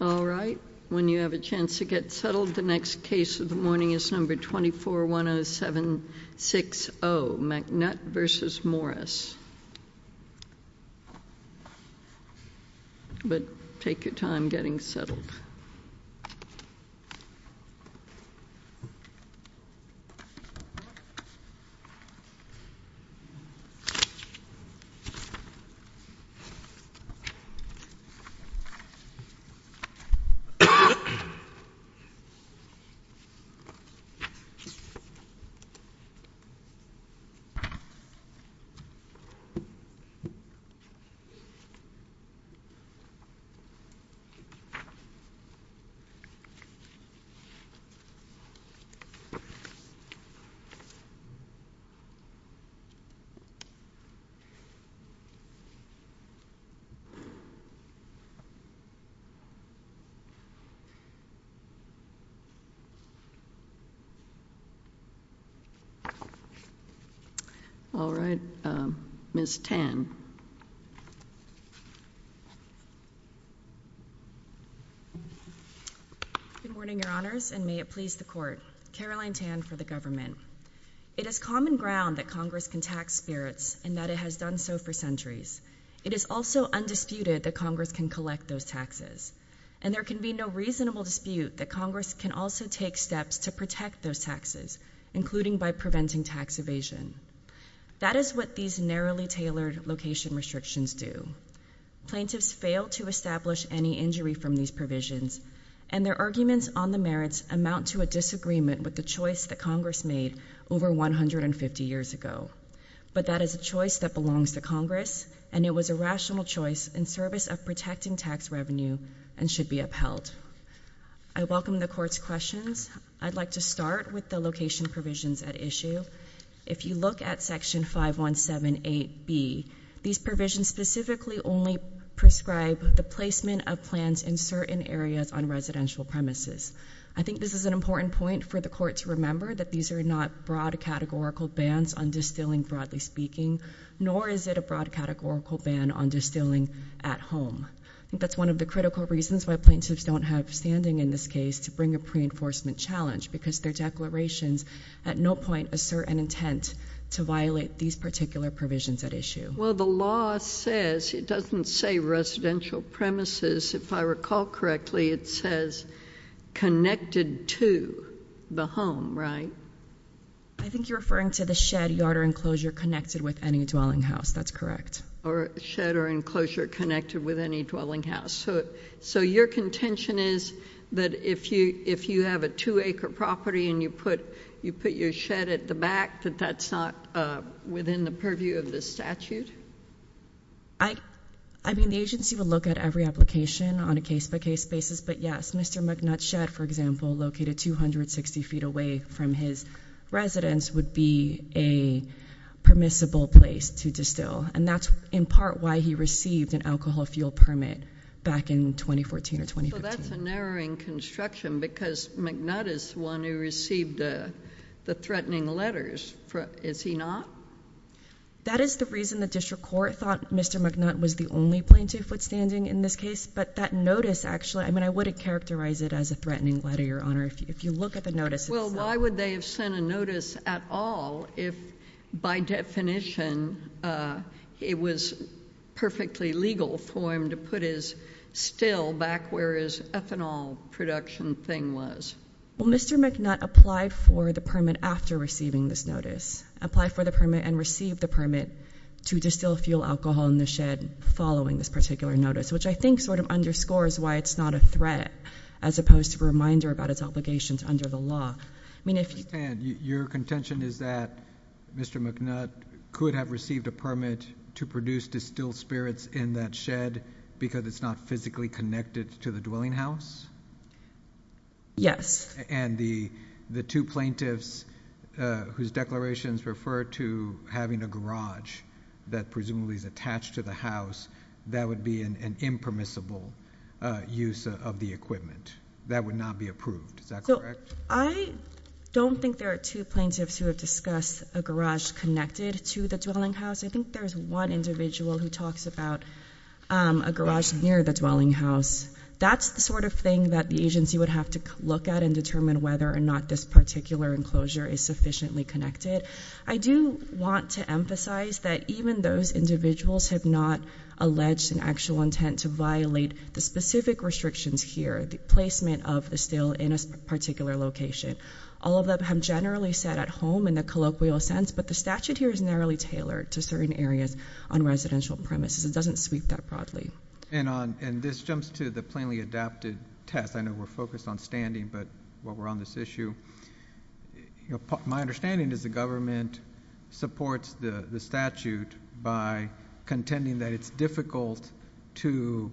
All right, when you have a chance to get settled, the next case of the morning is number 2410760, McNutt v. Morris. But take your time getting settled. Ms. Tan. Good morning, your honors, and may it please the court. Caroline Tan for the government. It is common ground that Congress can tax spirits and that it has done so for centuries. It is also undisputed that Congress can collect those taxes. And there can be no reasonable dispute that Congress can also take steps to protect those taxes, including by preventing tax evasion. That is what these narrowly tailored location restrictions do. Plaintiffs fail to establish any injury from these provisions, and their arguments on the merits amount to a disagreement with the choice that Congress made over 150 years ago. But that is a choice that belongs to Congress, and it was a rational choice in service of protecting tax revenue and should be upheld. I welcome the court's questions. I'd like to start with the location provisions at issue. If you look at section 5178B, these provisions specifically only prescribe the placement of plans in certain areas on residential premises. I think this is an important point for the court to remember that these are not broad categorical bans on distilling, broadly speaking, nor is it a broad categorical ban on distilling at home. That's one of the critical reasons why plaintiffs don't have standing in this case to bring a pre-enforcement challenge, because their declarations at no point assert an intent to violate these particular provisions at issue. Well, the law says, it doesn't say residential premises, if I recall correctly, it says connected to the home, right? I think you're referring to the shed, yard, or enclosure connected with any dwelling house. That's correct. Or shed or enclosure connected with any dwelling house. So your contention is that if you have a 2-acre property and you put your shed at the back, that that's not within the purview of the statute? I mean, the agency would look at every application on a case-by-case basis, but yes, Mr. McNutt's shed, for example, located 260 feet away from his residence would be a permissible place to distill. And that's in part why he received an alcohol fuel permit back in 2014 or 2015. That's a narrowing construction, because McNutt is the one who received the threatening letters. Is he not? That is the reason the district court thought Mr. McNutt was the only plaintiff with standing in this case, but that notice actually, I mean, I wouldn't characterize it as a threatening letter, Your Honor, if you look at the notice. Well, why would they have sent a notice at all if, by definition, it was perfectly legal for him to still back where his ethanol production thing was? Well, Mr. McNutt applied for the permit after receiving this notice, applied for the permit, and received the permit to distill fuel alcohol in the shed following this particular notice, which I think sort of underscores why it's not a threat as opposed to a reminder about its obligations under the law. I understand. Your contention is that Mr. McNutt could have received a permit to produce distilled spirits in that shed because it's not physically connected to the dwelling house? And the two plaintiffs whose declarations refer to having a garage that presumably is attached to the house, that would be an impermissible use of the equipment. That would not be approved. Is that correct? I don't think there are two plaintiffs who have discussed a garage connected to the dwelling house. I think there's one individual who talks about a garage near the dwelling house. That's the sort of thing that the agency would have to look at and determine whether or not this particular enclosure is sufficiently connected. I do want to emphasize that even those individuals have not alleged an actual intent to violate the specific restrictions here, the placement of the still in a particular location. All of them have generally sat at home in a colloquial sense, but the statute here is narrowly tailored to certain areas on residential premises. It doesn't sweep that broadly. And this jumps to the plainly adapted test. I know we're focused on standing, but while we're on this issue, my understanding is the government supports the statute by contending that it's difficult to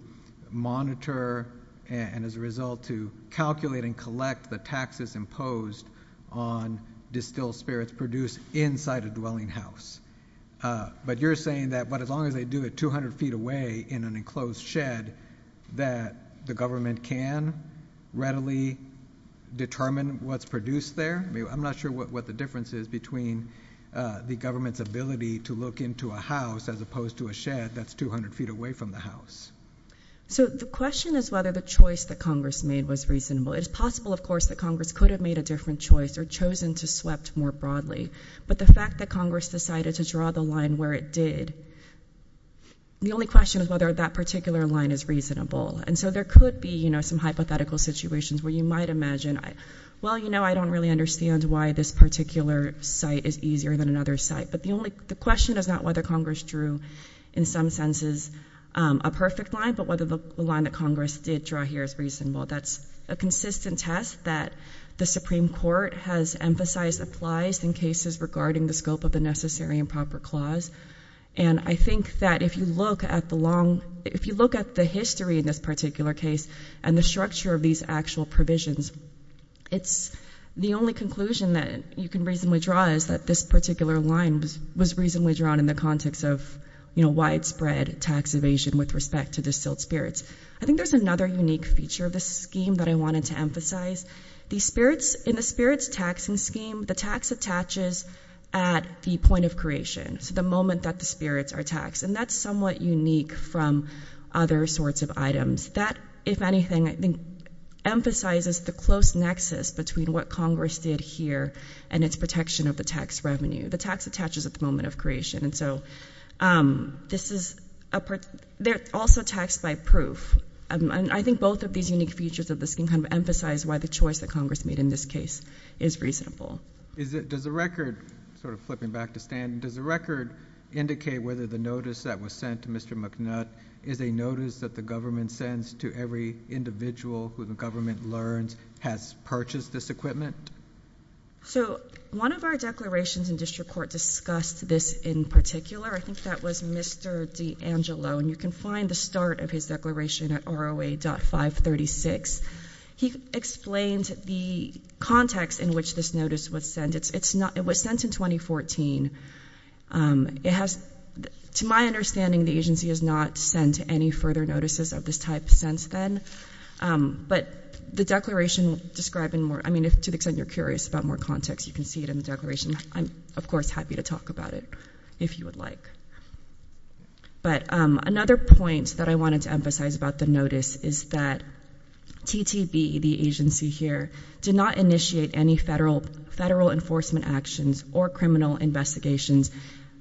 monitor and as a result to calculate and collect the taxes imposed on distilled spirits produced inside a dwelling house. But you're saying that as long as they do it 200 feet away in an enclosed shed that the government can readily determine what's produced there? I'm not sure what the difference is between the government's ability to look into a house as opposed to a shed that's 200 feet away from the house. So the question is whether the choice that Congress made was reasonable. It is possible, of course, that Congress could have made a different choice or chosen to swept more broadly. But the fact that Congress decided to draw the line where it did, the only question is whether that particular line is reasonable. And so there could be some hypothetical situations where you might imagine, well, you know, I don't really understand why this particular site is easier than another site. But the question is not whether Congress drew in some senses a perfect line, but whether the line that Congress did draw here is reasonable. That's a consistent test that the Supreme Court has emphasized applies in cases regarding the scope of the necessary and proper clause. And I think that if you look at the long, if you look at the history in this particular case and the structure of these actual provisions, it's the only conclusion that you can reasonably draw is that this particular line was reasonably drawn in the context of, you know, spiritual spirits. I think there's another unique feature of this scheme that I wanted to emphasize. The spirits, in the spirits taxing scheme, the tax attaches at the point of creation, so the moment that the spirits are taxed. And that's somewhat unique from other sorts of items that, if anything, I think emphasizes the close nexus between what Congress did here and its protection of the tax revenue, the tax attaches at the moment of creation. And so this is a part, they're also taxed by proof. And I think both of these unique features of the scheme kind of emphasize why the choice that Congress made in this case is reasonable. Is it, does the record, sort of flipping back to Stan, does the record indicate whether the notice that was sent to Mr. McNutt is a notice that the government sends to every individual who the government learns has purchased this equipment? So one of our declarations in district court discussed this in particular. I think that was Mr. D'Angelo, and you can find the start of his declaration at ROA.536. He explained the context in which this notice was sent. It's not, it was sent in 2014. It has, to my understanding, the agency has not sent any further notices of this type since then. But the declaration describing more, I mean, to the extent you're curious about more context, you can see it in the declaration. I'm, of course, happy to talk about it if you would like. But another point that I wanted to emphasize about the notice is that TTB, the agency here, did not initiate any federal enforcement actions or criminal investigations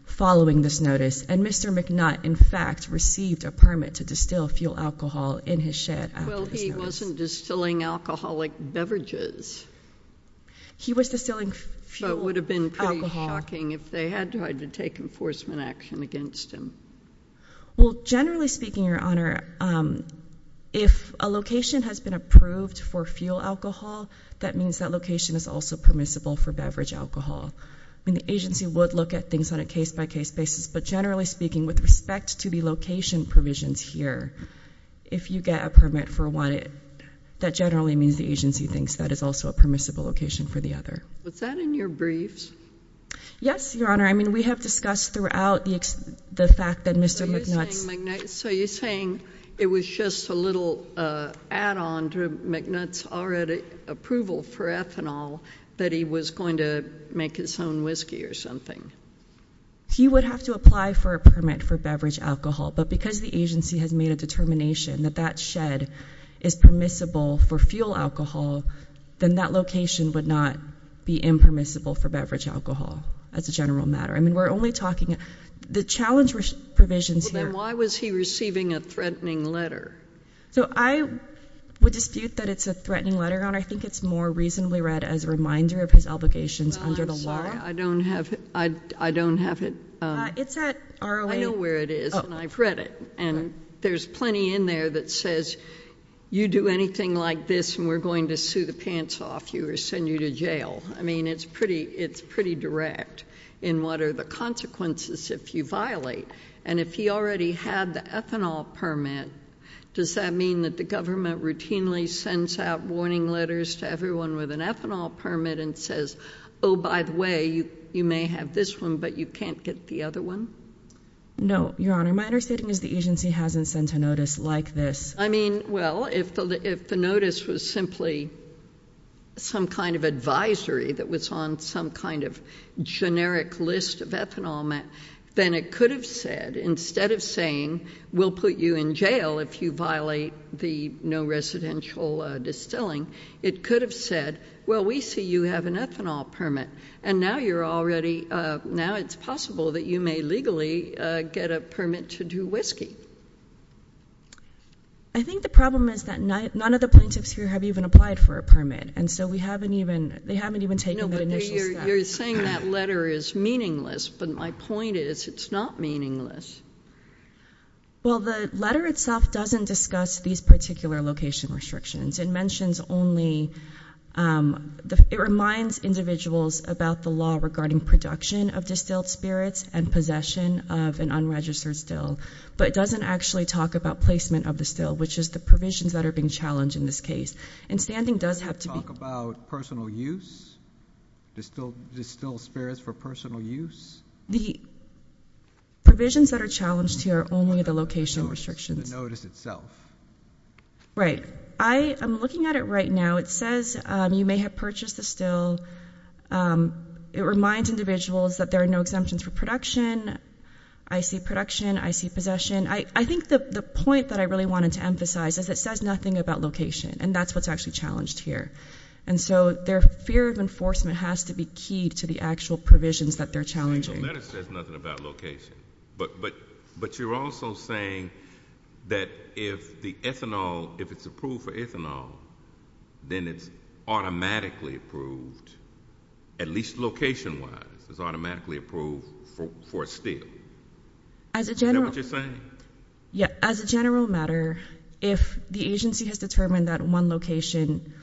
following this notice. And Mr. McNutt, in fact, received a permit to distill fuel alcohol in his shed. Well, he wasn't distilling alcoholic beverages. He was distilling fuel alcohol. That would have been pretty shocking if they had tried to take enforcement action against him. Well, generally speaking, Your Honor, if a location has been approved for fuel alcohol, that means that location is also permissible for beverage alcohol. I mean, the agency would look at things on a case-by-case basis. But generally speaking, with respect to the location provisions here, if you get a permit for one, that generally means the agency thinks that is also a permissible location for the other. Was that in your briefs? Yes, Your Honor. I mean, we have discussed throughout the fact that Mr. McNutt's— So you're saying it was just a little add-on to McNutt's already approval for ethanol that he was going to make his own whiskey or something? He would have to apply for a permit for beverage alcohol. But because the agency has made a determination that that shed is permissible for fuel alcohol, then that location would not be impermissible for beverage alcohol as a general matter. I mean, we're only talking— the challenge provisions here— Then why was he receiving a threatening letter? So I would dispute that it's a threatening letter, Your Honor. I think it's more reasonably read as a reminder of his obligations under the law. I don't have it. I know where it is, and I've read it. And there's plenty in there that says, you do anything like this, and we're going to sue the pants off you or send you to jail. I mean, it's pretty direct in what are the consequences if you violate. And if he already had the ethanol permit, does that mean that the government routinely sends out warning letters to everyone with an ethanol permit and says, oh, by the way, you may have this one, but you can't get the other one? No, Your Honor. My understanding is the agency hasn't sent a notice like this. I mean, well, if the notice was simply some kind of advisory that was on some kind of generic list of ethanol, then it could have said, instead of saying, we'll put you in jail if you violate the no residential distilling, it could have said, well, we see you have an ethanol permit, and now it's possible that you may legally get a permit to do whiskey. I think the problem is that none of the plaintiffs here have even applied for a permit, and so they haven't even taken that initial step. You're saying that letter is meaningless, but my point is it's not meaningless. Well, the letter itself doesn't discuss these particular location restrictions. It mentions only, it reminds individuals about the law regarding production of distilled spirits and possession of an unregistered still, but it doesn't actually talk about placement of the still, which is the provisions that are being challenged in this case. And standing does have to be- Does it talk about personal use, distilled spirits for personal use? The provisions that are challenged here are only the location restrictions. The notice itself. Right. I am looking at it right now. It says you may have purchased the still. It reminds individuals that there are no exemptions for production. I see production. I see possession. I think the point that I really wanted to emphasize is it says nothing about location, and that's what's actually challenged here. And so their fear of enforcement has to be key to the actual provisions that they're challenging. The letter says nothing about location, but you're also saying that if the ethanol, if it's approved for ethanol, then it's automatically approved, at least location-wise, it's automatically approved for a still. As a general- Is that what you're saying? Yeah. As a general matter, if the agency has determined that one location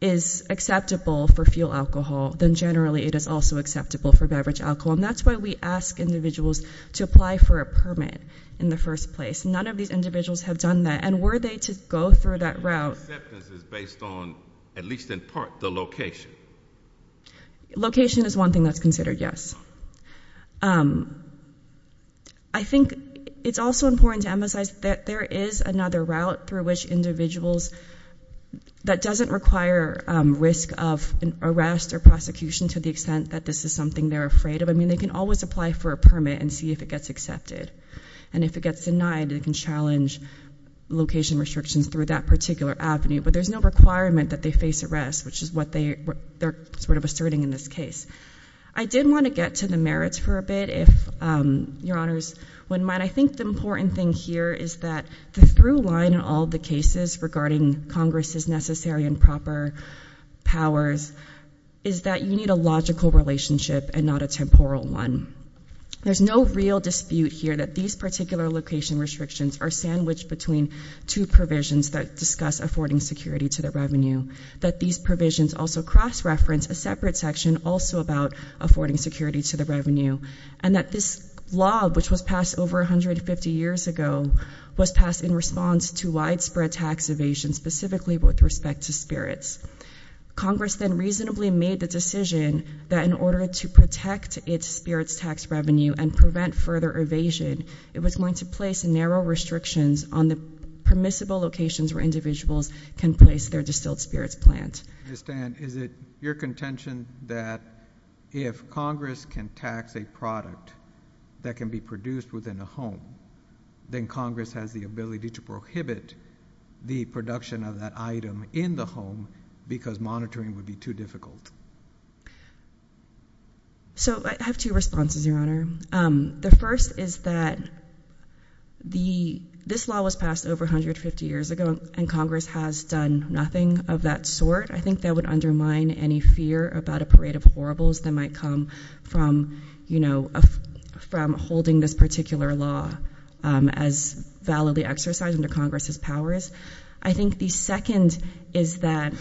is acceptable for fuel alcohol, then generally it is also acceptable for beverage alcohol. And that's why we ask individuals to apply for a permit in the first place. None of these individuals have done that. And were they to go through that route- Acceptance is based on, at least in part, the location. Location is one thing that's considered, yes. I think it's also important to emphasize that there is another route through which individuals that doesn't require risk of arrest or prosecution to the extent that this is something they're afraid of. I mean, they can always apply for a permit and see if it gets accepted. And if it gets denied, it can challenge location restrictions through that particular avenue. But there's no requirement that they face arrest, which is what they're sort of asserting in this case. I did want to get to the merits for a bit, if your honors wouldn't mind. I think the important thing here is that the through line in all the cases regarding Congress's necessary and proper powers is that you need a logical relationship and not a temporal one. There's no real dispute here that these particular location restrictions are sandwiched between two provisions that discuss affording security to the revenue. That these provisions also cross-reference a separate section also about affording security to the revenue. And that this law, which was passed over 150 years ago, was passed in response to widespread tax evasion, specifically with respect to spirits. Congress then reasonably made the decision that in order to protect its spirits tax revenue and prevent further evasion, it was going to place narrow restrictions on the permissible locations where individuals can place their distilled spirits plant. Is it your contention that if Congress can tax a product that can be produced within a home, then Congress has the ability to prohibit the production of that item in the home because monitoring would be too difficult? So I have two responses, your honor. The first is that this law was passed over 150 years ago and Congress has done nothing of that sort. I think that would undermine any fear about a parade of horribles that might come from holding this particular law as validly exercised under Congress's powers. I think the second is that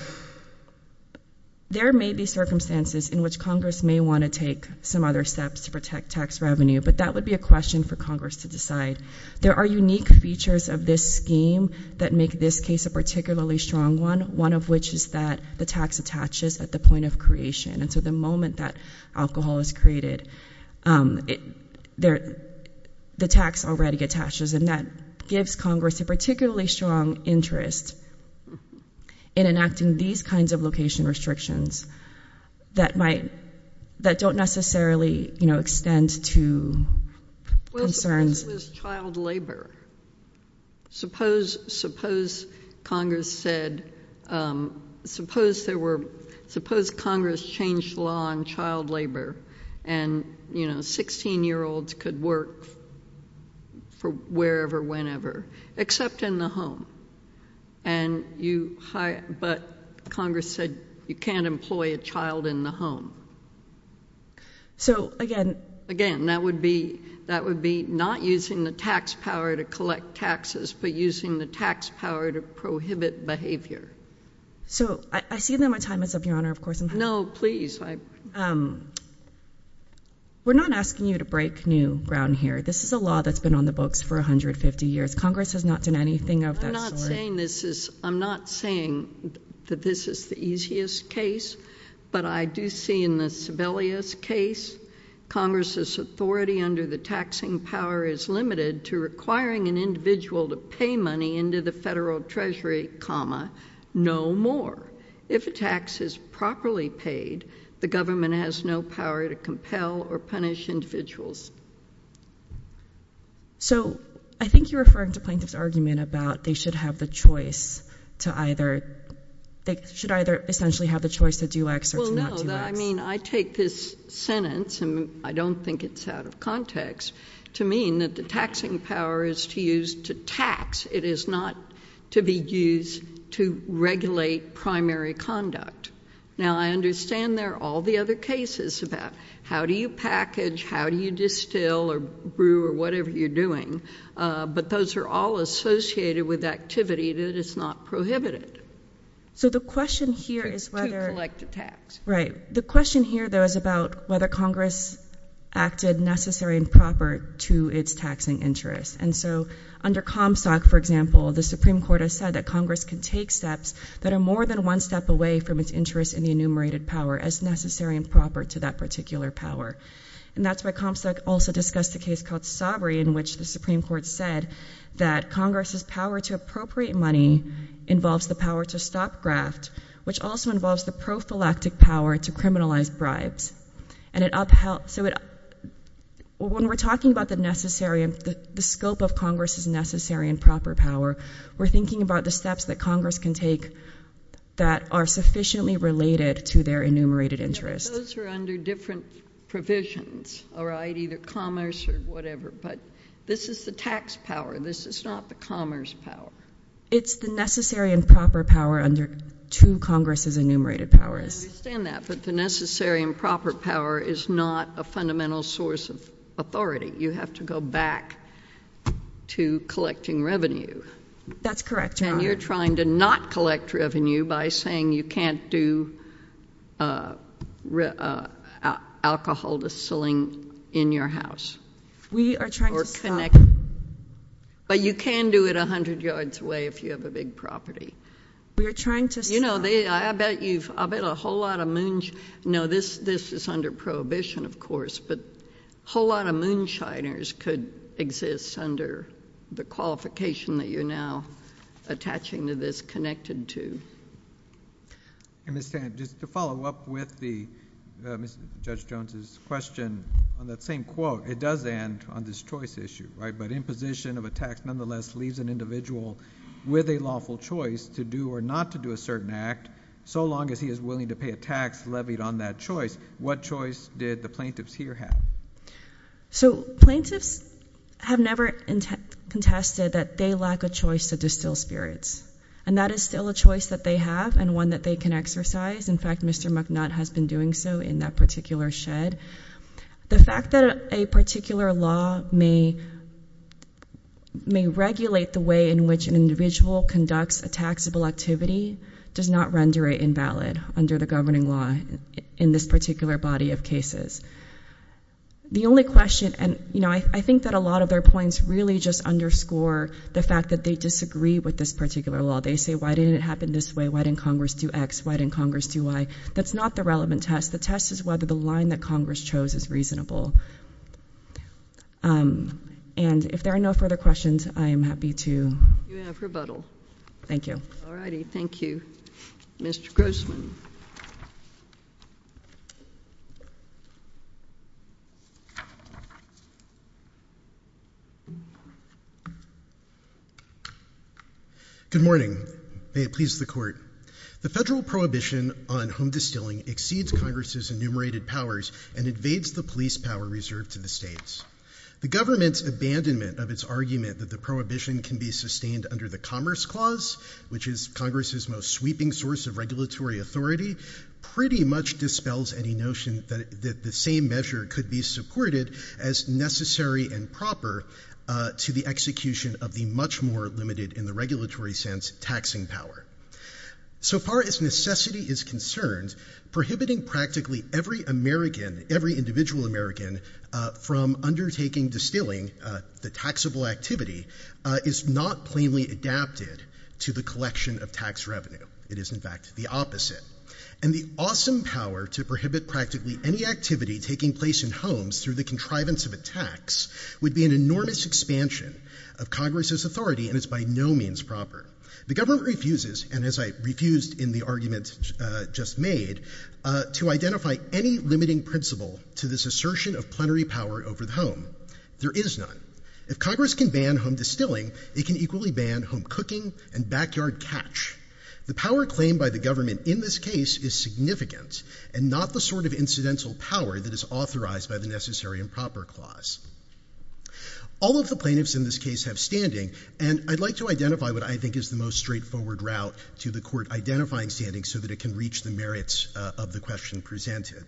there may be circumstances in which Congress may want to take some other steps to protect tax revenue, but that would be a question for Congress to decide. There are unique features of this scheme that make this case a particularly strong one, one of which is that the tax attaches at the point of creation. And so the moment that alcohol is created, the tax already attaches. And that gives Congress a particularly strong interest in enacting these kinds of location restrictions that might, that don't necessarily, you know, extend to concerns. Well, suppose it was child labor. Suppose, suppose Congress said, suppose there were, suppose Congress changed law on child labor and, you know, 16-year-olds could work for wherever, whenever, except in the home. And you hire, but Congress said you can't employ a child in the home. So again. Again, that would be, that would be not using the tax power to collect taxes, but using the tax power to prohibit behavior. So I see that my time is up, Your Honor, of course. No, please. We're not asking you to break new ground here. This is a law that's been on the books for 150 years. Congress has not done anything of that sort. I'm not saying this is, I'm not saying that this is the easiest case, but I do see in the Sebelius case, Congress's authority under the taxing power is limited to requiring an individual to pay money into the federal treasury, comma, no more. If a tax is properly paid, the government has no power to compel or punish individuals. So I think you're referring to plaintiff's argument about they should have the choice to either, they should either essentially have the choice to do X or to not do X. Well, no, I mean, I take this sentence, and I don't think it's out of context, to mean that the taxing power is to use to tax. It is not to be used to regulate primary conduct. Now, I understand there are all the other cases about how do you package, how do you pay still, or brew, or whatever you're doing, but those are all associated with activity that is not prohibited. So the question here is whether- To collect a tax. Right. The question here, though, is about whether Congress acted necessary and proper to its taxing interest. And so under Comstock, for example, the Supreme Court has said that Congress can take steps that are more than one step away from its interest in the enumerated power as necessary and proper to that particular power. And that's why Comstock also discussed a case called Sabri, in which the Supreme Court said that Congress's power to appropriate money involves the power to stop graft, which also involves the prophylactic power to criminalize bribes. And it upheld, so it, when we're talking about the necessary, the scope of Congress's necessary and proper power, we're thinking about the steps that Congress can take that are sufficiently related to their enumerated interest. Those are under different provisions, all right? Either commerce or whatever. But this is the tax power. This is not the commerce power. It's the necessary and proper power under two Congress's enumerated powers. I understand that, but the necessary and proper power is not a fundamental source of authority. You have to go back to collecting revenue. That's correct, Your Honor. And you're trying to not collect revenue by saying you can't do alcohol distilling in your house. We are trying to stop— But you can do it 100 yards away if you have a big property. We are trying to stop— You know, I bet you've, I bet a whole lot of moons—no, this is under prohibition, of course, but a whole lot of moonshiners could exist under the qualification that you're attaching to this connected to. And Ms. Stanton, just to follow up with Judge Jones's question on that same quote, it does end on this choice issue, right? But imposition of a tax nonetheless leaves an individual with a lawful choice to do or not to do a certain act so long as he is willing to pay a tax levied on that choice. What choice did the plaintiffs here have? So plaintiffs have never contested that they lack a choice to distill spirits. And that is still a choice that they have and one that they can exercise. In fact, Mr. McNutt has been doing so in that particular shed. The fact that a particular law may regulate the way in which an individual conducts a taxable activity does not render it invalid under the governing law in this particular body of cases. The only question, and I think that a lot of their points really just underscore the fact that they disagree with this particular law. They say, why didn't it happen this way? Why didn't Congress do X? Why didn't Congress do Y? That's not the relevant test. The test is whether the line that Congress chose is reasonable. And if there are no further questions, I am happy to- You have rebuttal. Thank you. All righty, thank you. Mr. Grossman. Good morning. May it please the court. The federal prohibition on home distilling exceeds Congress's enumerated powers and invades the police power reserved to the states. The government's abandonment of its argument that the prohibition can be sustained under the Commerce Clause, which is Congress's most sweeping source of regulatory authority, pretty much dispels any notion that the same measure could be supported as necessary and proper to the execution of the much more limited, in the regulatory sense, taxing power. So far as necessity is concerned, prohibiting practically every individual American from undertaking distilling, the taxable activity, is not plainly adapted to the collection of tax revenue. It is, in fact, the opposite. And the awesome power to prohibit practically any activity taking place in homes through the contrivance of a tax would be an enormous expansion of Congress's authority, and it's by no means proper. The government refuses, and as I refused in the argument just made, to identify any limiting principle to this assertion of plenary power over the home. There is none. If Congress can ban home distilling, it can equally ban home cooking and backyard catch. The power claimed by the government in this case is significant, and not the sort of incidental power that is authorized by the Necessary and Proper Clause. All of the plaintiffs in this case have standing, and I'd like to identify what I think is the most straightforward route to the court identifying standing so that it can reach the merits of the question presented.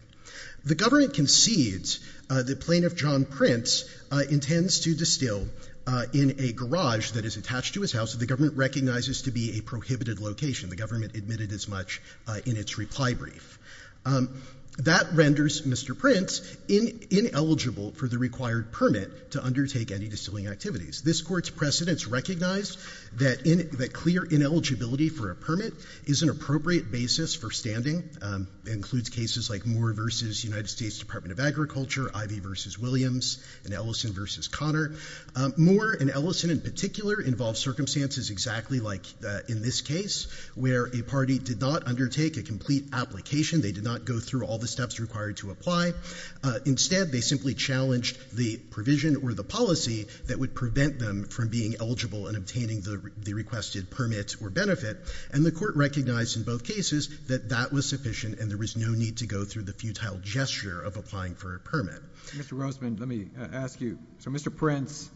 The government concedes that Plaintiff John Prince intends to distill in a garage that is attached to his house that the government recognizes to be a prohibited location. The government admitted as much in its reply brief. That renders Mr. Prince ineligible for the required permit to undertake any distilling activities. This Court's precedents recognize that clear ineligibility for a permit is an appropriate basis for standing. It includes cases like Moore v. United States Department of Agriculture, Ivey v. Williams, and Ellison v. Connor. Moore and Ellison in particular involve circumstances exactly like in this case, where a party did not undertake a complete application. They did not go through all the steps required to apply. Instead, they simply challenged the provision or the policy that would prevent them from being eligible and obtaining the requested permit or benefit, and the Court recognized in both cases that that was sufficient and there was no need to go through the futile gesture of applying for a permit. Mr. Roseman, let me ask you. So Mr. Prince,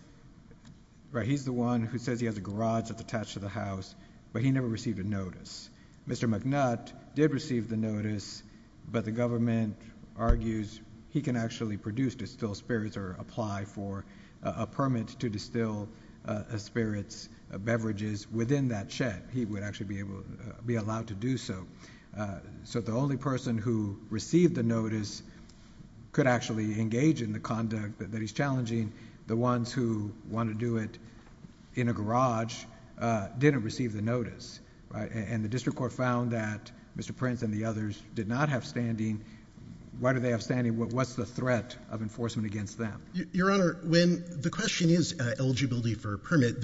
right, he's the one who says he has a garage that's attached to the house, but he never received a notice. Mr. McNutt did receive the notice, but the government argues he can actually produce distilled spirits or apply for a permit to distill a spirit's beverages within that shed. He would actually be allowed to do so. So the only person who received the notice could actually engage in the conduct that he's challenging. The ones who want to do it in a garage didn't receive the notice, and the District Court found that Mr. Prince and the others did not have standing. Why do they have standing? What's the threat of enforcement against them? Your Honor, when the question is eligibility for a permit,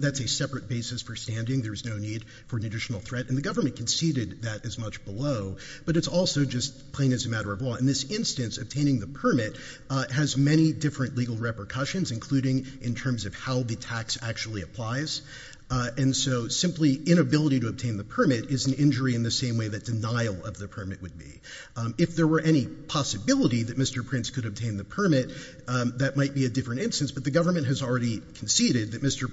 that's a separate basis for There's no need for an additional threat. And the government conceded that as much below, but it's also just plain as a matter of law. In this instance, obtaining the permit has many different legal repercussions, including in terms of how the tax actually applies. And so simply inability to obtain the permit is an injury in the same way that denial of the permit would be. If there were any possibility that Mr. Prince could obtain the permit, that might be a different instance. But the government has already conceded that Mr.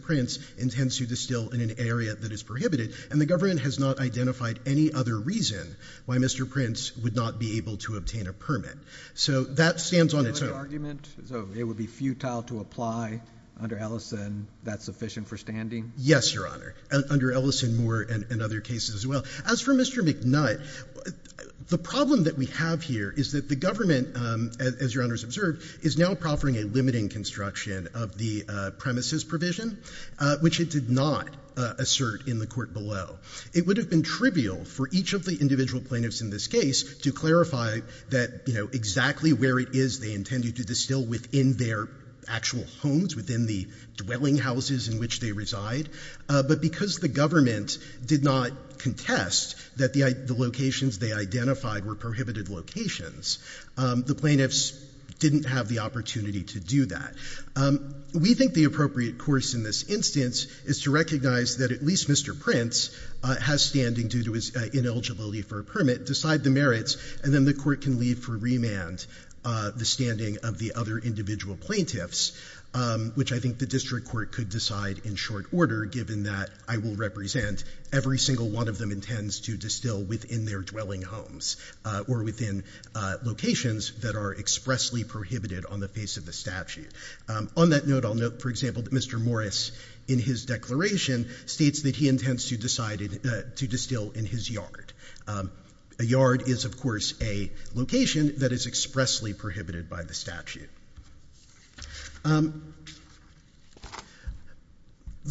Prince intends to distill in an area that is prohibited, and the government has not identified any other reason why Mr. Prince would not be able to obtain a permit. So that stands on its own. So it would be futile to apply under Ellison that's sufficient for standing? Yes, Your Honor, under Ellison, Moore, and other cases as well. As for Mr. McNutt, the problem that we have here is that the government, as Your Honor has observed, is now proffering a limiting construction of the premises provision, which it did not assert in the court below. It would have been trivial for each of the individual plaintiffs in this case to clarify that exactly where it is they intended to distill within their actual homes, within the dwelling houses in which they reside. But because the government did not contest that the locations they identified were prohibited locations, the plaintiffs didn't have the opportunity to do that. We think the appropriate course in this instance is to recognize that at least Mr. Prince has standing due to his ineligibility for a permit, decide the merits, and then the court can leave for remand the standing of the other individual plaintiffs, which I think the district court could decide in short order given that I will represent every single one of them intends to distill within their dwelling homes or within locations that are expressly prohibited on the face of the statute. On that note, I'll note, for example, that Mr. Morris in his declaration states that he intends to distill in his yard. A yard is, of course, a location that is expressly prohibited by the statute. The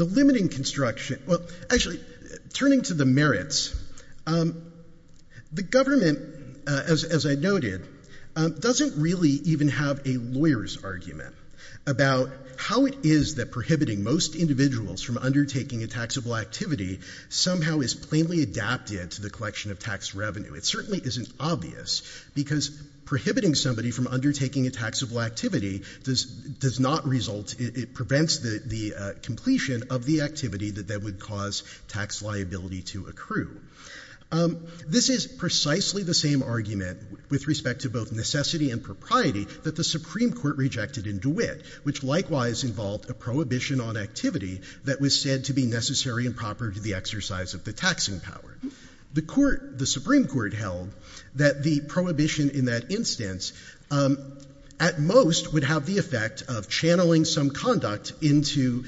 limiting construction, well, actually, turning to the merits, the government, as I noted, doesn't really even have a lawyer's argument about how it is that prohibiting most individuals from undertaking a taxable activity somehow is plainly adapted to the collection of tax revenue. It certainly isn't obvious because prohibiting somebody from undertaking a taxable activity does not result, it prevents the completion of the activity that would cause tax liability to accrue. This is precisely the same argument with respect to both necessity and propriety that the Supreme Court rejected in DeWitt, which likewise involved a prohibition on activity that was said to be necessary and proper to the exercise of the taxing power. The Supreme Court held that the prohibition in that instance, at most, would have the effect of channeling some conduct into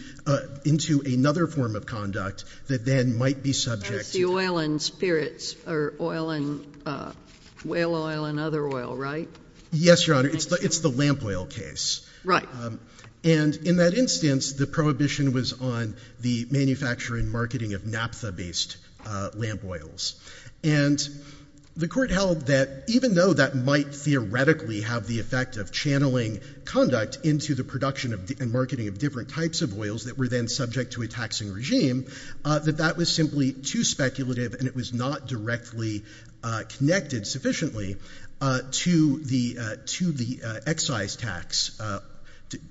another form of conduct that then might be subject to taxing. That's the oil and spirits, or oil and whale oil and other oil, right? Yes, Your Honor. It's the lamp oil case. Right. And in that instance, the prohibition was on the manufacturing and marketing of naphtha based lamp oils. And the Court held that even though that might theoretically have the effect of channeling conduct into the production and marketing of different types of oils that were then subject to a taxing regime, that that was simply too speculative and it was not directly connected sufficiently to the excise tax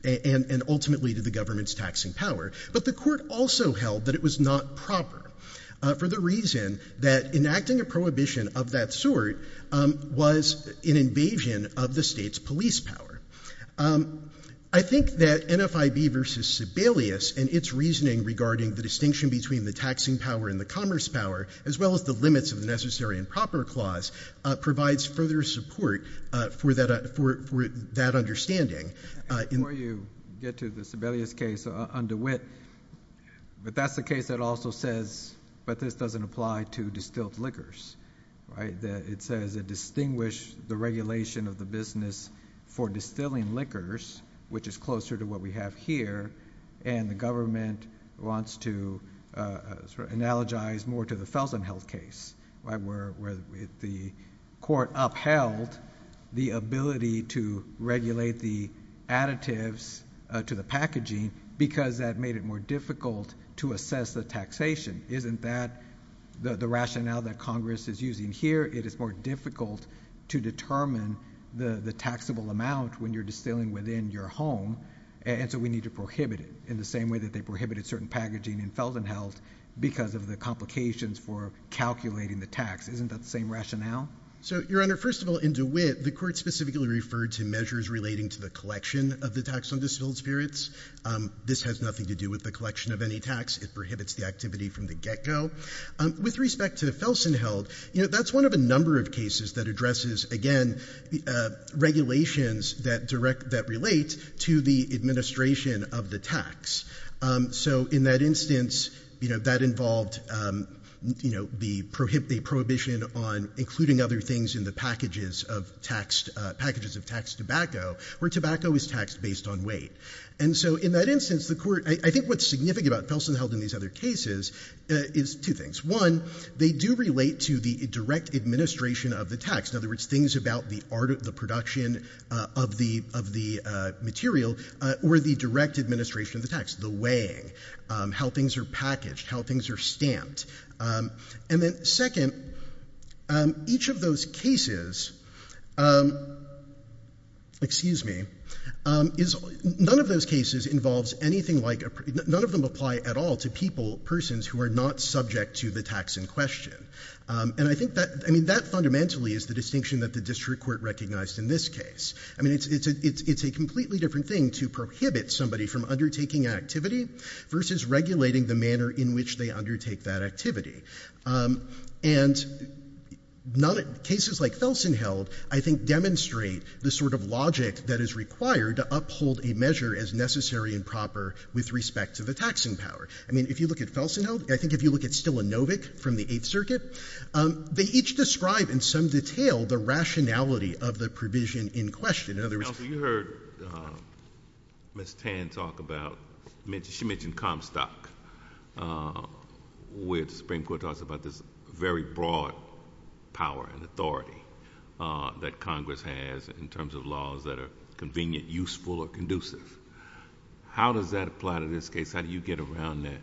and ultimately to the government's taxing power. But the Court also held that it was not proper for the reason that enacting a prohibition of that sort was an invasion of the state's police power. I think that NFIB versus Sebelius and its reasoning regarding the distinction between the taxing power and the commerce power, as well as the limits of the Necessary and Proper Clause, provides further support for that understanding. Before you get to the Sebelius case, under Witt, but that's the case that also says, but this doesn't apply to distilled liquors, right? It says it distinguished the regulation of the business for distilling liquors, which is closer to what we have here, and the government wants to analogize more to the Felsenheld case, where the Court upheld the ability to regulate the additives to the packaging because that made it more difficult to assess the taxation. Isn't that the rationale that Congress is using here? It is more difficult to determine the taxable amount when you're distilling within your home, and so we need to prohibit it in the same way that they prohibited certain packaging in Felsenheld because of the complications for calculating the tax. Isn't that the same rationale? So, Your Honor, first of all, in DeWitt, the Court specifically referred to measures relating to the collection of the tax on distilled spirits. This has nothing to do with the collection of any tax. It prohibits the activity from the get-go. With respect to the Felsenheld, that's one of a number of cases that addresses, again, regulations that relate to the administration of the tax. So in that instance, that involved the prohibition on including other things in the packages of taxed tobacco, where tobacco is taxed based on weight. And so in that instance, I think what's significant about Felsenheld in these other cases is two things. One, they do relate to the direct administration of the tax. In other words, things about the production of the material or the direct administration of the tax, the weighing, how things are packaged, how things are stamped. And then second, each of those cases, excuse me, none of those cases involves anything like a—none of them apply at all to people, persons who are not subject to the tax in question. And I think that fundamentally is the distinction that the District Court recognized in this case. I mean, it's a completely different thing to prohibit somebody from undertaking an activity versus regulating the manner in which they undertake that activity. And cases like Felsenheld, I think, demonstrate the sort of logic that is required to uphold a measure as necessary and proper with respect to the taxing power. I mean, if you look at Felsenheld, I think if you look at Stilinovic from the Eighth Circuit, they each describe in some detail the rationality of the provision in question. Counsel, you heard Ms. Tan talk about—she mentioned Comstock, which the Supreme Court talks about this very broad power and authority that Congress has in terms of laws that are convenient, useful, or conducive. How does that apply to this case? How do you get around that?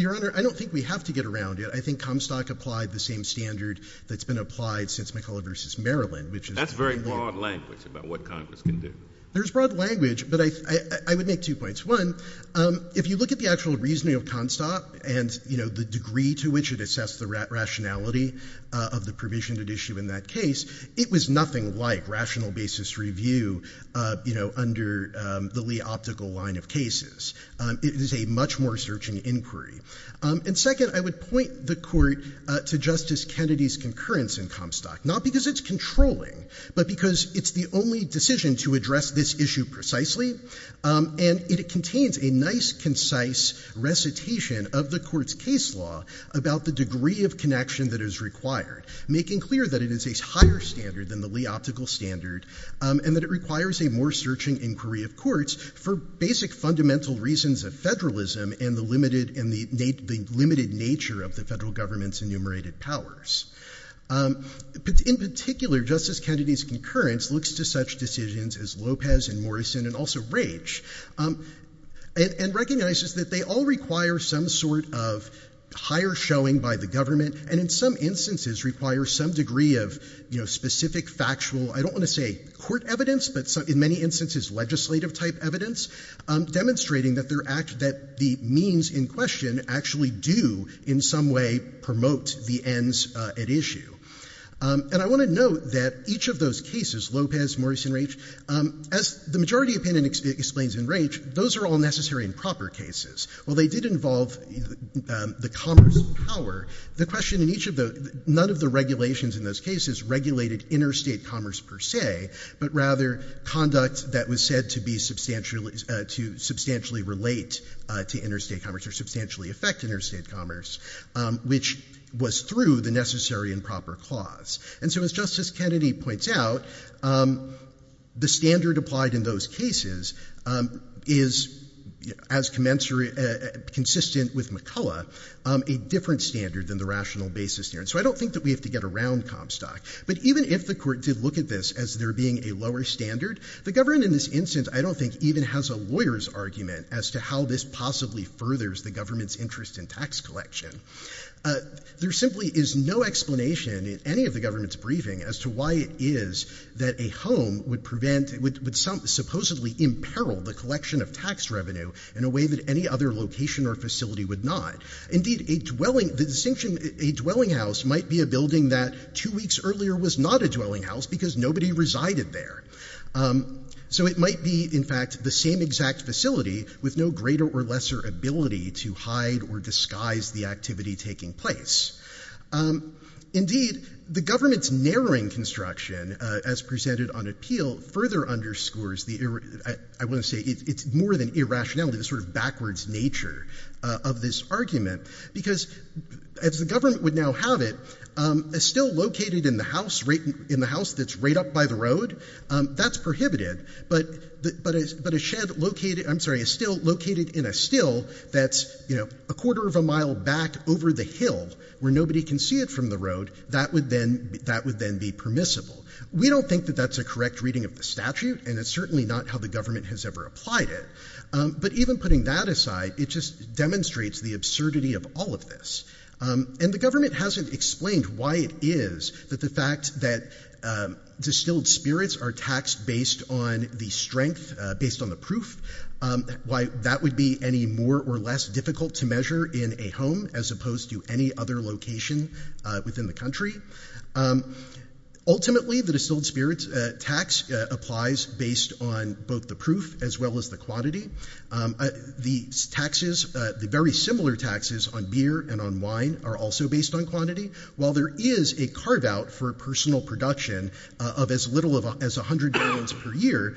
Your Honor, I don't think we have to get around it. I think Comstock applied the same standard that's been applied since McCulloch versus Maryland, which is— That's very broad language about what Congress can do. There's broad language, but I would make two points. One, if you look at the actual reasoning of Comstock and the degree to which it assessed the rationality of the provision at issue in that case, it was nothing like rational basis review under the Lee optical line of cases. It is a much more searching inquiry. And second, I would point the Court to Justice Kennedy's concurrence in Comstock, not because it's controlling, but because it's the only decision to address this issue precisely. And it contains a nice, concise recitation of the Court's case law about the degree of connection that is required, making clear that it is a higher standard than the Lee optical standard and that it requires a more searching inquiry of courts for basic fundamental reasons of federalism and the limited nature of the federal government's enumerated powers. But in particular, Justice Kennedy's concurrence looks to such decisions as Lopez and Morrison and also Raich and recognizes that they all require some sort of higher showing by the government and in some instances require some degree of specific factual—I don't want to say court evidence, but in many instances legislative type evidence—demonstrating that the means in question actually do in some way promote the ends at issue. And I want to note that each of those cases, Lopez, Morrison, Raich, as the majority opinion explains in Raich, those are all necessary and proper cases. While they did involve the commerce power, the question in each of the—none of the regulations in those cases regulated interstate commerce per se, but rather conduct that was said to substantially relate to interstate commerce or substantially affect interstate commerce, which was through the necessary and proper clause. And so as Justice Kennedy points out, the standard applied in those cases is, as consistent with McCullough, a different standard than the rational basis there. So I don't think that we have to get around Comstock. But even if the court did look at this as there being a lower standard, the government in this instance I don't think even has a lawyer's argument as to how this possibly furthers the government's interest in tax collection. There simply is no explanation in any of the government's briefing as to why it is that a home would prevent—would supposedly imperil the collection of tax revenue in a way that any other location or facility would not. Indeed, a dwelling—the distinction—a dwelling house might be a building that two weeks earlier was not a dwelling house because nobody resided there. So it might be, in fact, the same exact facility with no greater or lesser ability to hide or disguise the activity taking place. Indeed, the government's narrowing construction, as presented on appeal, further underscores the—I want to say it's more than irrationality, the sort of backwards nature of this argument. Because as the government would now have it, a still located in the house that's right up by the road, that's prohibited. But a shed located—I'm sorry, a still located in a still that's a quarter of a mile back over the hill where nobody can see it from the road, that would then be permissible. We don't think that that's a correct reading of the statute, and it's certainly not how the government has ever applied it. But even putting that aside, it just demonstrates the absurdity of all of this. And the government hasn't explained why it is that the fact that distilled spirits are taxed based on the strength, based on the proof, why that would be any more or less difficult to measure in a home as opposed to any other location within the Ultimately, the distilled spirits tax applies based on both the proof as well as the quantity. The taxes, the very similar taxes on beer and on wine are also based on quantity. While there is a carve-out for personal production of as little as 100 gallons per year,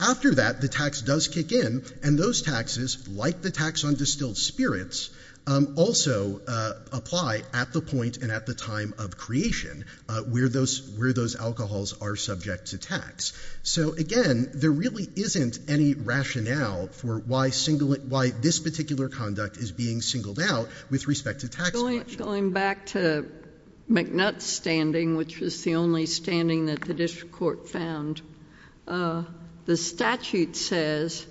after that the tax does kick in, and those taxes, like the tax on distilled spirits, also apply at the point and at the time of creation where those alcohols are subject to tax. So again, there really isn't any rationale for why this particular conduct is being singled out with respect to tax collection. Going back to McNutt's standing, which was the only standing that the district court found, the statute says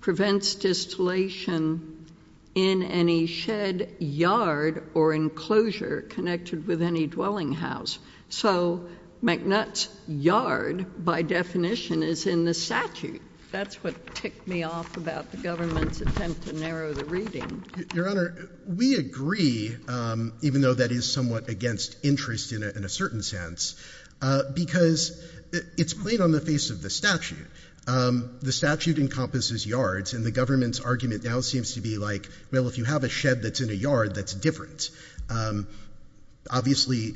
prevents distillation in any shed, yard, or enclosure connected with any dwelling house. So McNutt's yard, by definition, is in the statute. That's what ticked me off about the government's attempt to narrow the reading. Your Honor, we agree, even though that is somewhat against interest in a certain sense, because it's plain on the face of the statute. The statute encompasses yards, and the government's argument now seems to be like, well, if you have a shed that's in a yard, that's different. Obviously,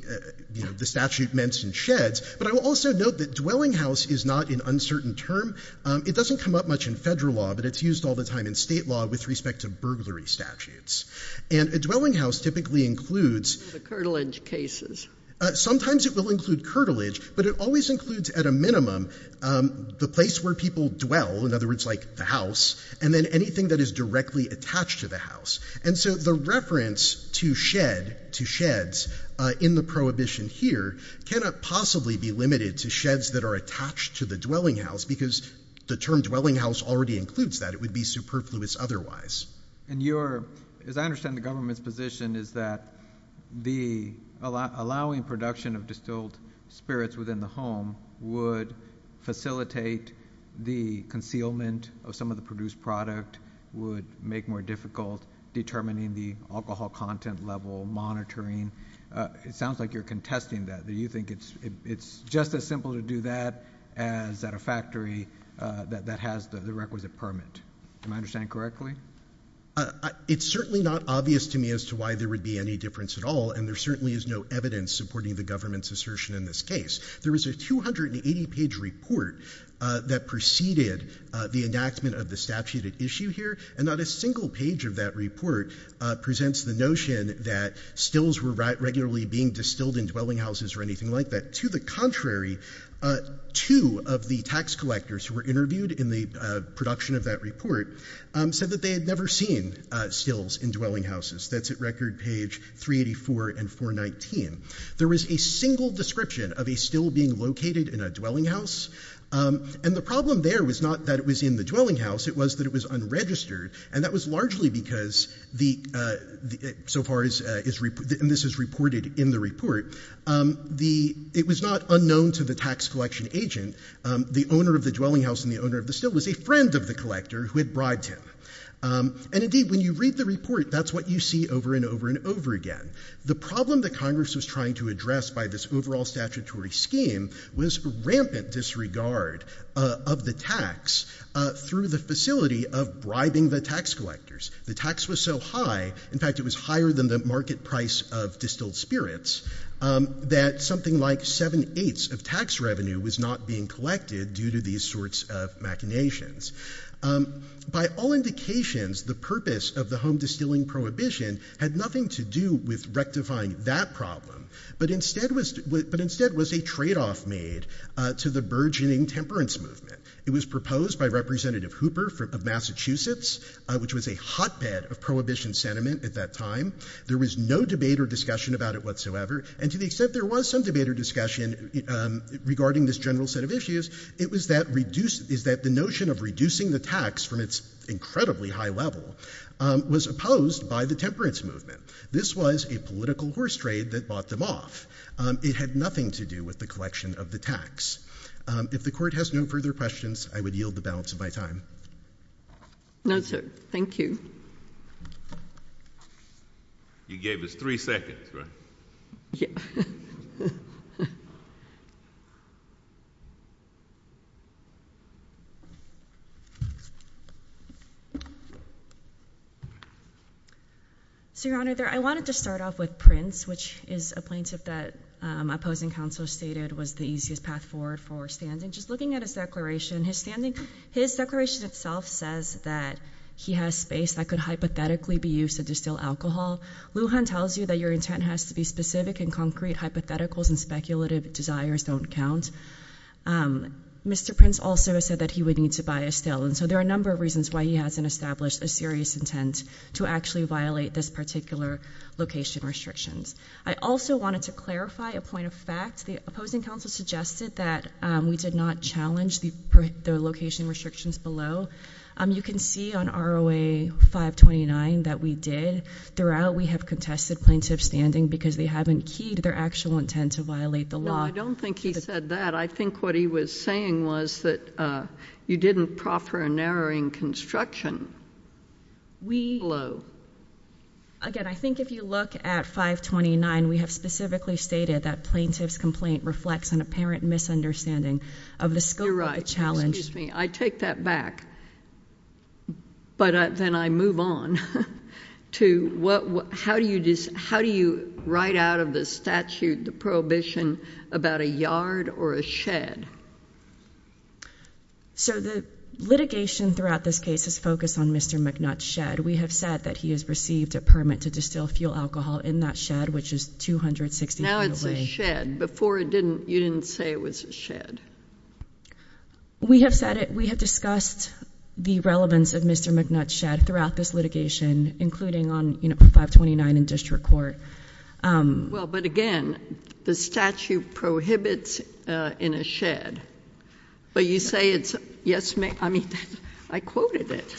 the statute mentions sheds, but I will also note that dwelling house is not an uncertain term. It doesn't come up much in federal law, but it's used all the time in state law with respect to burglary statutes. And a dwelling house typically includes... The curtilage cases. Sometimes it will include curtilage, but it always includes, at a minimum, the place where people dwell, in other words, like the house, and then anything that is directly attached to the house. And so the reference to shed, to sheds, in the prohibition here, cannot possibly be limited to sheds that are attached to the dwelling house, because the term dwelling house already includes that. It would be superfluous otherwise. And your, as I understand the government's position, is that the allowing production of distilled spirits within the home would facilitate the concealment of some of the determining the alcohol content level, monitoring. It sounds like you're contesting that. Do you think it's just as simple to do that as at a factory that has the requisite permit? Am I understanding correctly? It's certainly not obvious to me as to why there would be any difference at all, and there certainly is no evidence supporting the government's assertion in this case. There is a 280-page report that preceded the enactment of the statute at issue here, and not a single page of that report presents the notion that stills were regularly being distilled in dwelling houses or anything like that. To the contrary, two of the tax collectors who were interviewed in the production of that report said that they had never seen stills in dwelling houses. That's at record page 384 and 419. There was a single description of a still being located in a dwelling house, and the problem there was not that it was in the dwelling house. It was that it was unregistered, and that was largely because, so far as this is reported in the report, it was not unknown to the tax collection agent. The owner of the dwelling house and the owner of the still was a friend of the collector who had bribed him. And indeed, when you read the report, that's what you see over and over and over again. The problem that Congress was trying to address by this overall statutory scheme was rampant disregard of the tax through the facility of bribing the tax collectors. The tax was so high, in fact, it was higher than the market price of distilled spirits, that something like seven-eighths of tax revenue was not being collected due to these sorts of machinations. By all indications, the purpose of the home distilling prohibition had nothing to do with rectifying that problem, but instead was a trade-off made to the burgeoning temperance movement. It was proposed by Representative Hooper of Massachusetts, which was a hotbed of prohibition sentiment at that time. There was no debate or discussion about it whatsoever, and to the extent there was some debate or discussion regarding this general set of issues, it was that the notion of reducing the tax from its incredibly high level was opposed by the temperance movement. This was a political horse trade that bought them off. It had nothing to do with the collection of the tax. If the Court has no further questions, I would yield the balance of my time. No, sir. Thank you. You gave us three seconds, right? Yeah. So, Your Honor, I wanted to start off with Prince, which is a plaintiff that opposing counsel stated was the easiest path forward for standing. Just looking at his declaration, his declaration itself says that he has space that could hypothetically be used to distill alcohol. Lujan tells you that your intent has to be specific and concrete. Hypotheticals and speculative desires don't count. Mr. Prince also said that he would need to buy a still, and so there are a number of reasons why he hasn't established a serious intent to actually violate this particular location restrictions. I also wanted to clarify a point of fact. The opposing counsel suggested that we did not challenge the location restrictions below. You can see on ROA 529 that we did. Throughout, we have contested plaintiff's standing because they haven't keyed their actual intent to violate the law. No, I don't think he said that. I think what he was saying was that you didn't proffer a narrowing construction below. Again, I think if you look at 529, we have specifically stated that plaintiff's complaint reflects an apparent misunderstanding of the scope of the challenge. I take that back, but then I move on to how do you write out of the statute the prohibition about a yard or a shed? The litigation throughout this case has focused on Mr. McNutt's shed. We have said that he has received a permit to distill fuel alcohol in that shed, which is 260 feet away. Now it's a shed. Before, you didn't say it was a shed. We have said it. We have discussed the relevance of Mr. McNutt's shed throughout this litigation, including on 529 in district court. Well, but again, the statute prohibits in a shed, but you say it's, yes, I mean, I quoted it.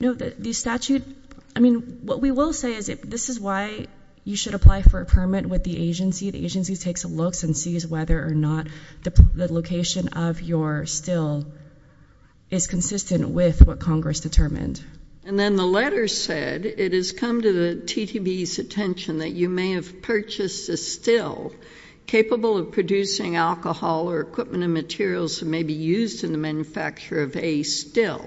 No, the statute, I mean, what we will say is this is why you should apply for a permit with the agency. The agency takes a look and sees whether or not the location of your still is consistent with what Congress determined. And then the letter said it has come to the TTB's attention that you may have purchased a still capable of producing alcohol or equipment and materials that may be used in the manufacture of a still.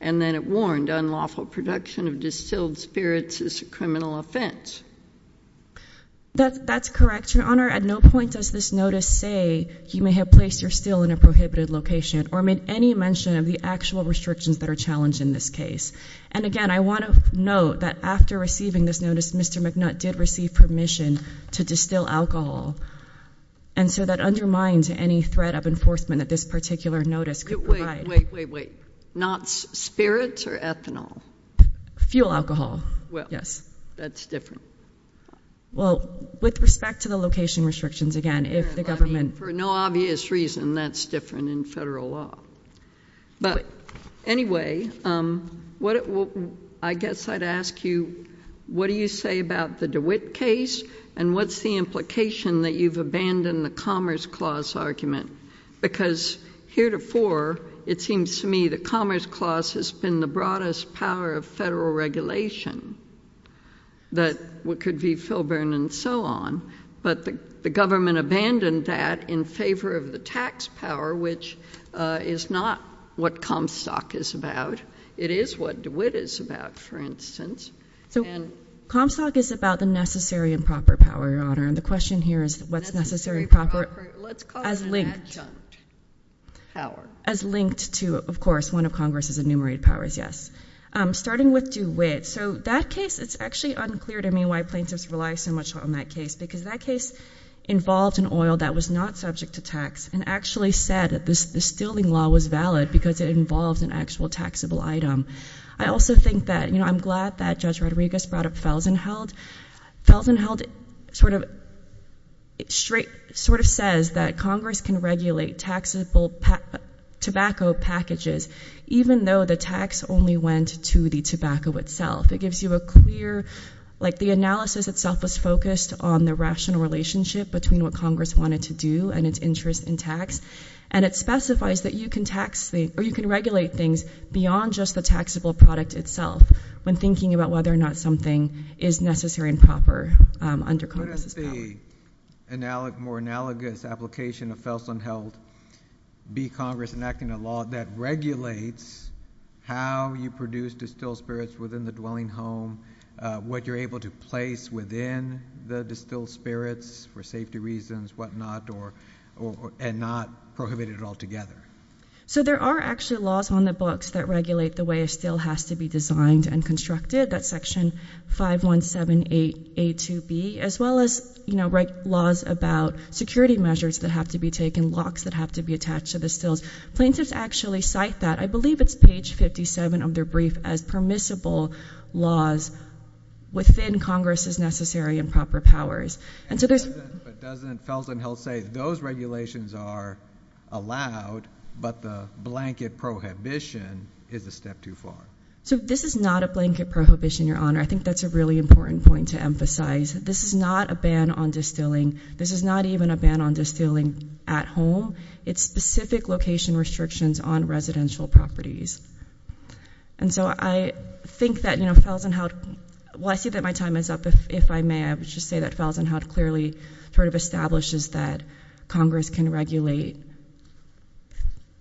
And then it warned unlawful production of distilled spirits is a criminal offense. That's correct, Your Honor. At no point does this notice say you may have placed your still in a prohibited location or made any mention of the actual restrictions that are challenged in this case. And again, I want to note that after receiving this notice, Mr. McNutt did receive permission to distill alcohol. And so that undermines any threat of enforcement that this particular notice could provide. Wait, wait, wait, wait. Not spirits or ethanol? Fuel alcohol, yes. That's different. Well, with respect to the location restrictions, again, if the government- For no obvious reason, that's different in federal law. But anyway, I guess I'd ask you, what do you say about the DeWitt case? And what's the implication that you've abandoned the Commerce Clause argument? Because heretofore, it seems to me the Commerce Clause has been the broadest power of federal regulation that could be Filburn and so on. But the government abandoned that in favor of the tax power, which is not what Comstock is about. It is what DeWitt is about, for instance. So Comstock is about the necessary and proper power, Your Honor, and the question here is what's necessary and proper as linked- Let's call it an adjunct power. As linked to, of course, one of Congress's enumerated powers, yes. Starting with DeWitt, so that case, it's actually unclear to me why plaintiffs rely so much on that case, because that case involved an oil that was not subject to tax and actually said that the stilling law was valid because it involved an actual taxable item. I also think that, you know, I'm glad that Judge Rodriguez brought up Felsenheld. Felsenheld sort of says that Congress can regulate taxable tobacco packages even though the tax only went to the tobacco itself. It gives you a clear, like the analysis itself was focused on the rational relationship between what Congress wanted to do and its interest in tax, and it specifies that you can regulate things beyond just the taxable product itself when thinking about whether or not something is necessary and proper under Congress's power. So there are actually laws on the books that regulate the way a still has to be designed and constructed, that's section 5178A2B, as well as, you know, write laws about security measures that have to be taken, locks that have to be attached to the stills. Plaintiffs actually cite that. I believe it's page 57 of their brief as permissible laws within Congress's necessary and proper powers. And so there's— But doesn't Felsenheld say those regulations are allowed, but the blanket prohibition is a step too far? So this is not a blanket prohibition, Your Honor. I think that's a really important point to emphasize. This is not a ban on distilling. This is not even a ban on distilling at home. It's specific location restrictions on residential properties. And so I think that, you know, Felsenheld—well, I see that my time is up, if I may. I would just say that Felsenheld clearly sort of establishes that Congress can regulate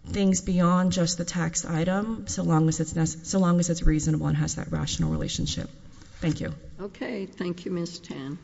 things beyond just the tax item, so long as it's reasonable and has that rational relationship. Thank you. Okay. Thank you, Ms. Tan.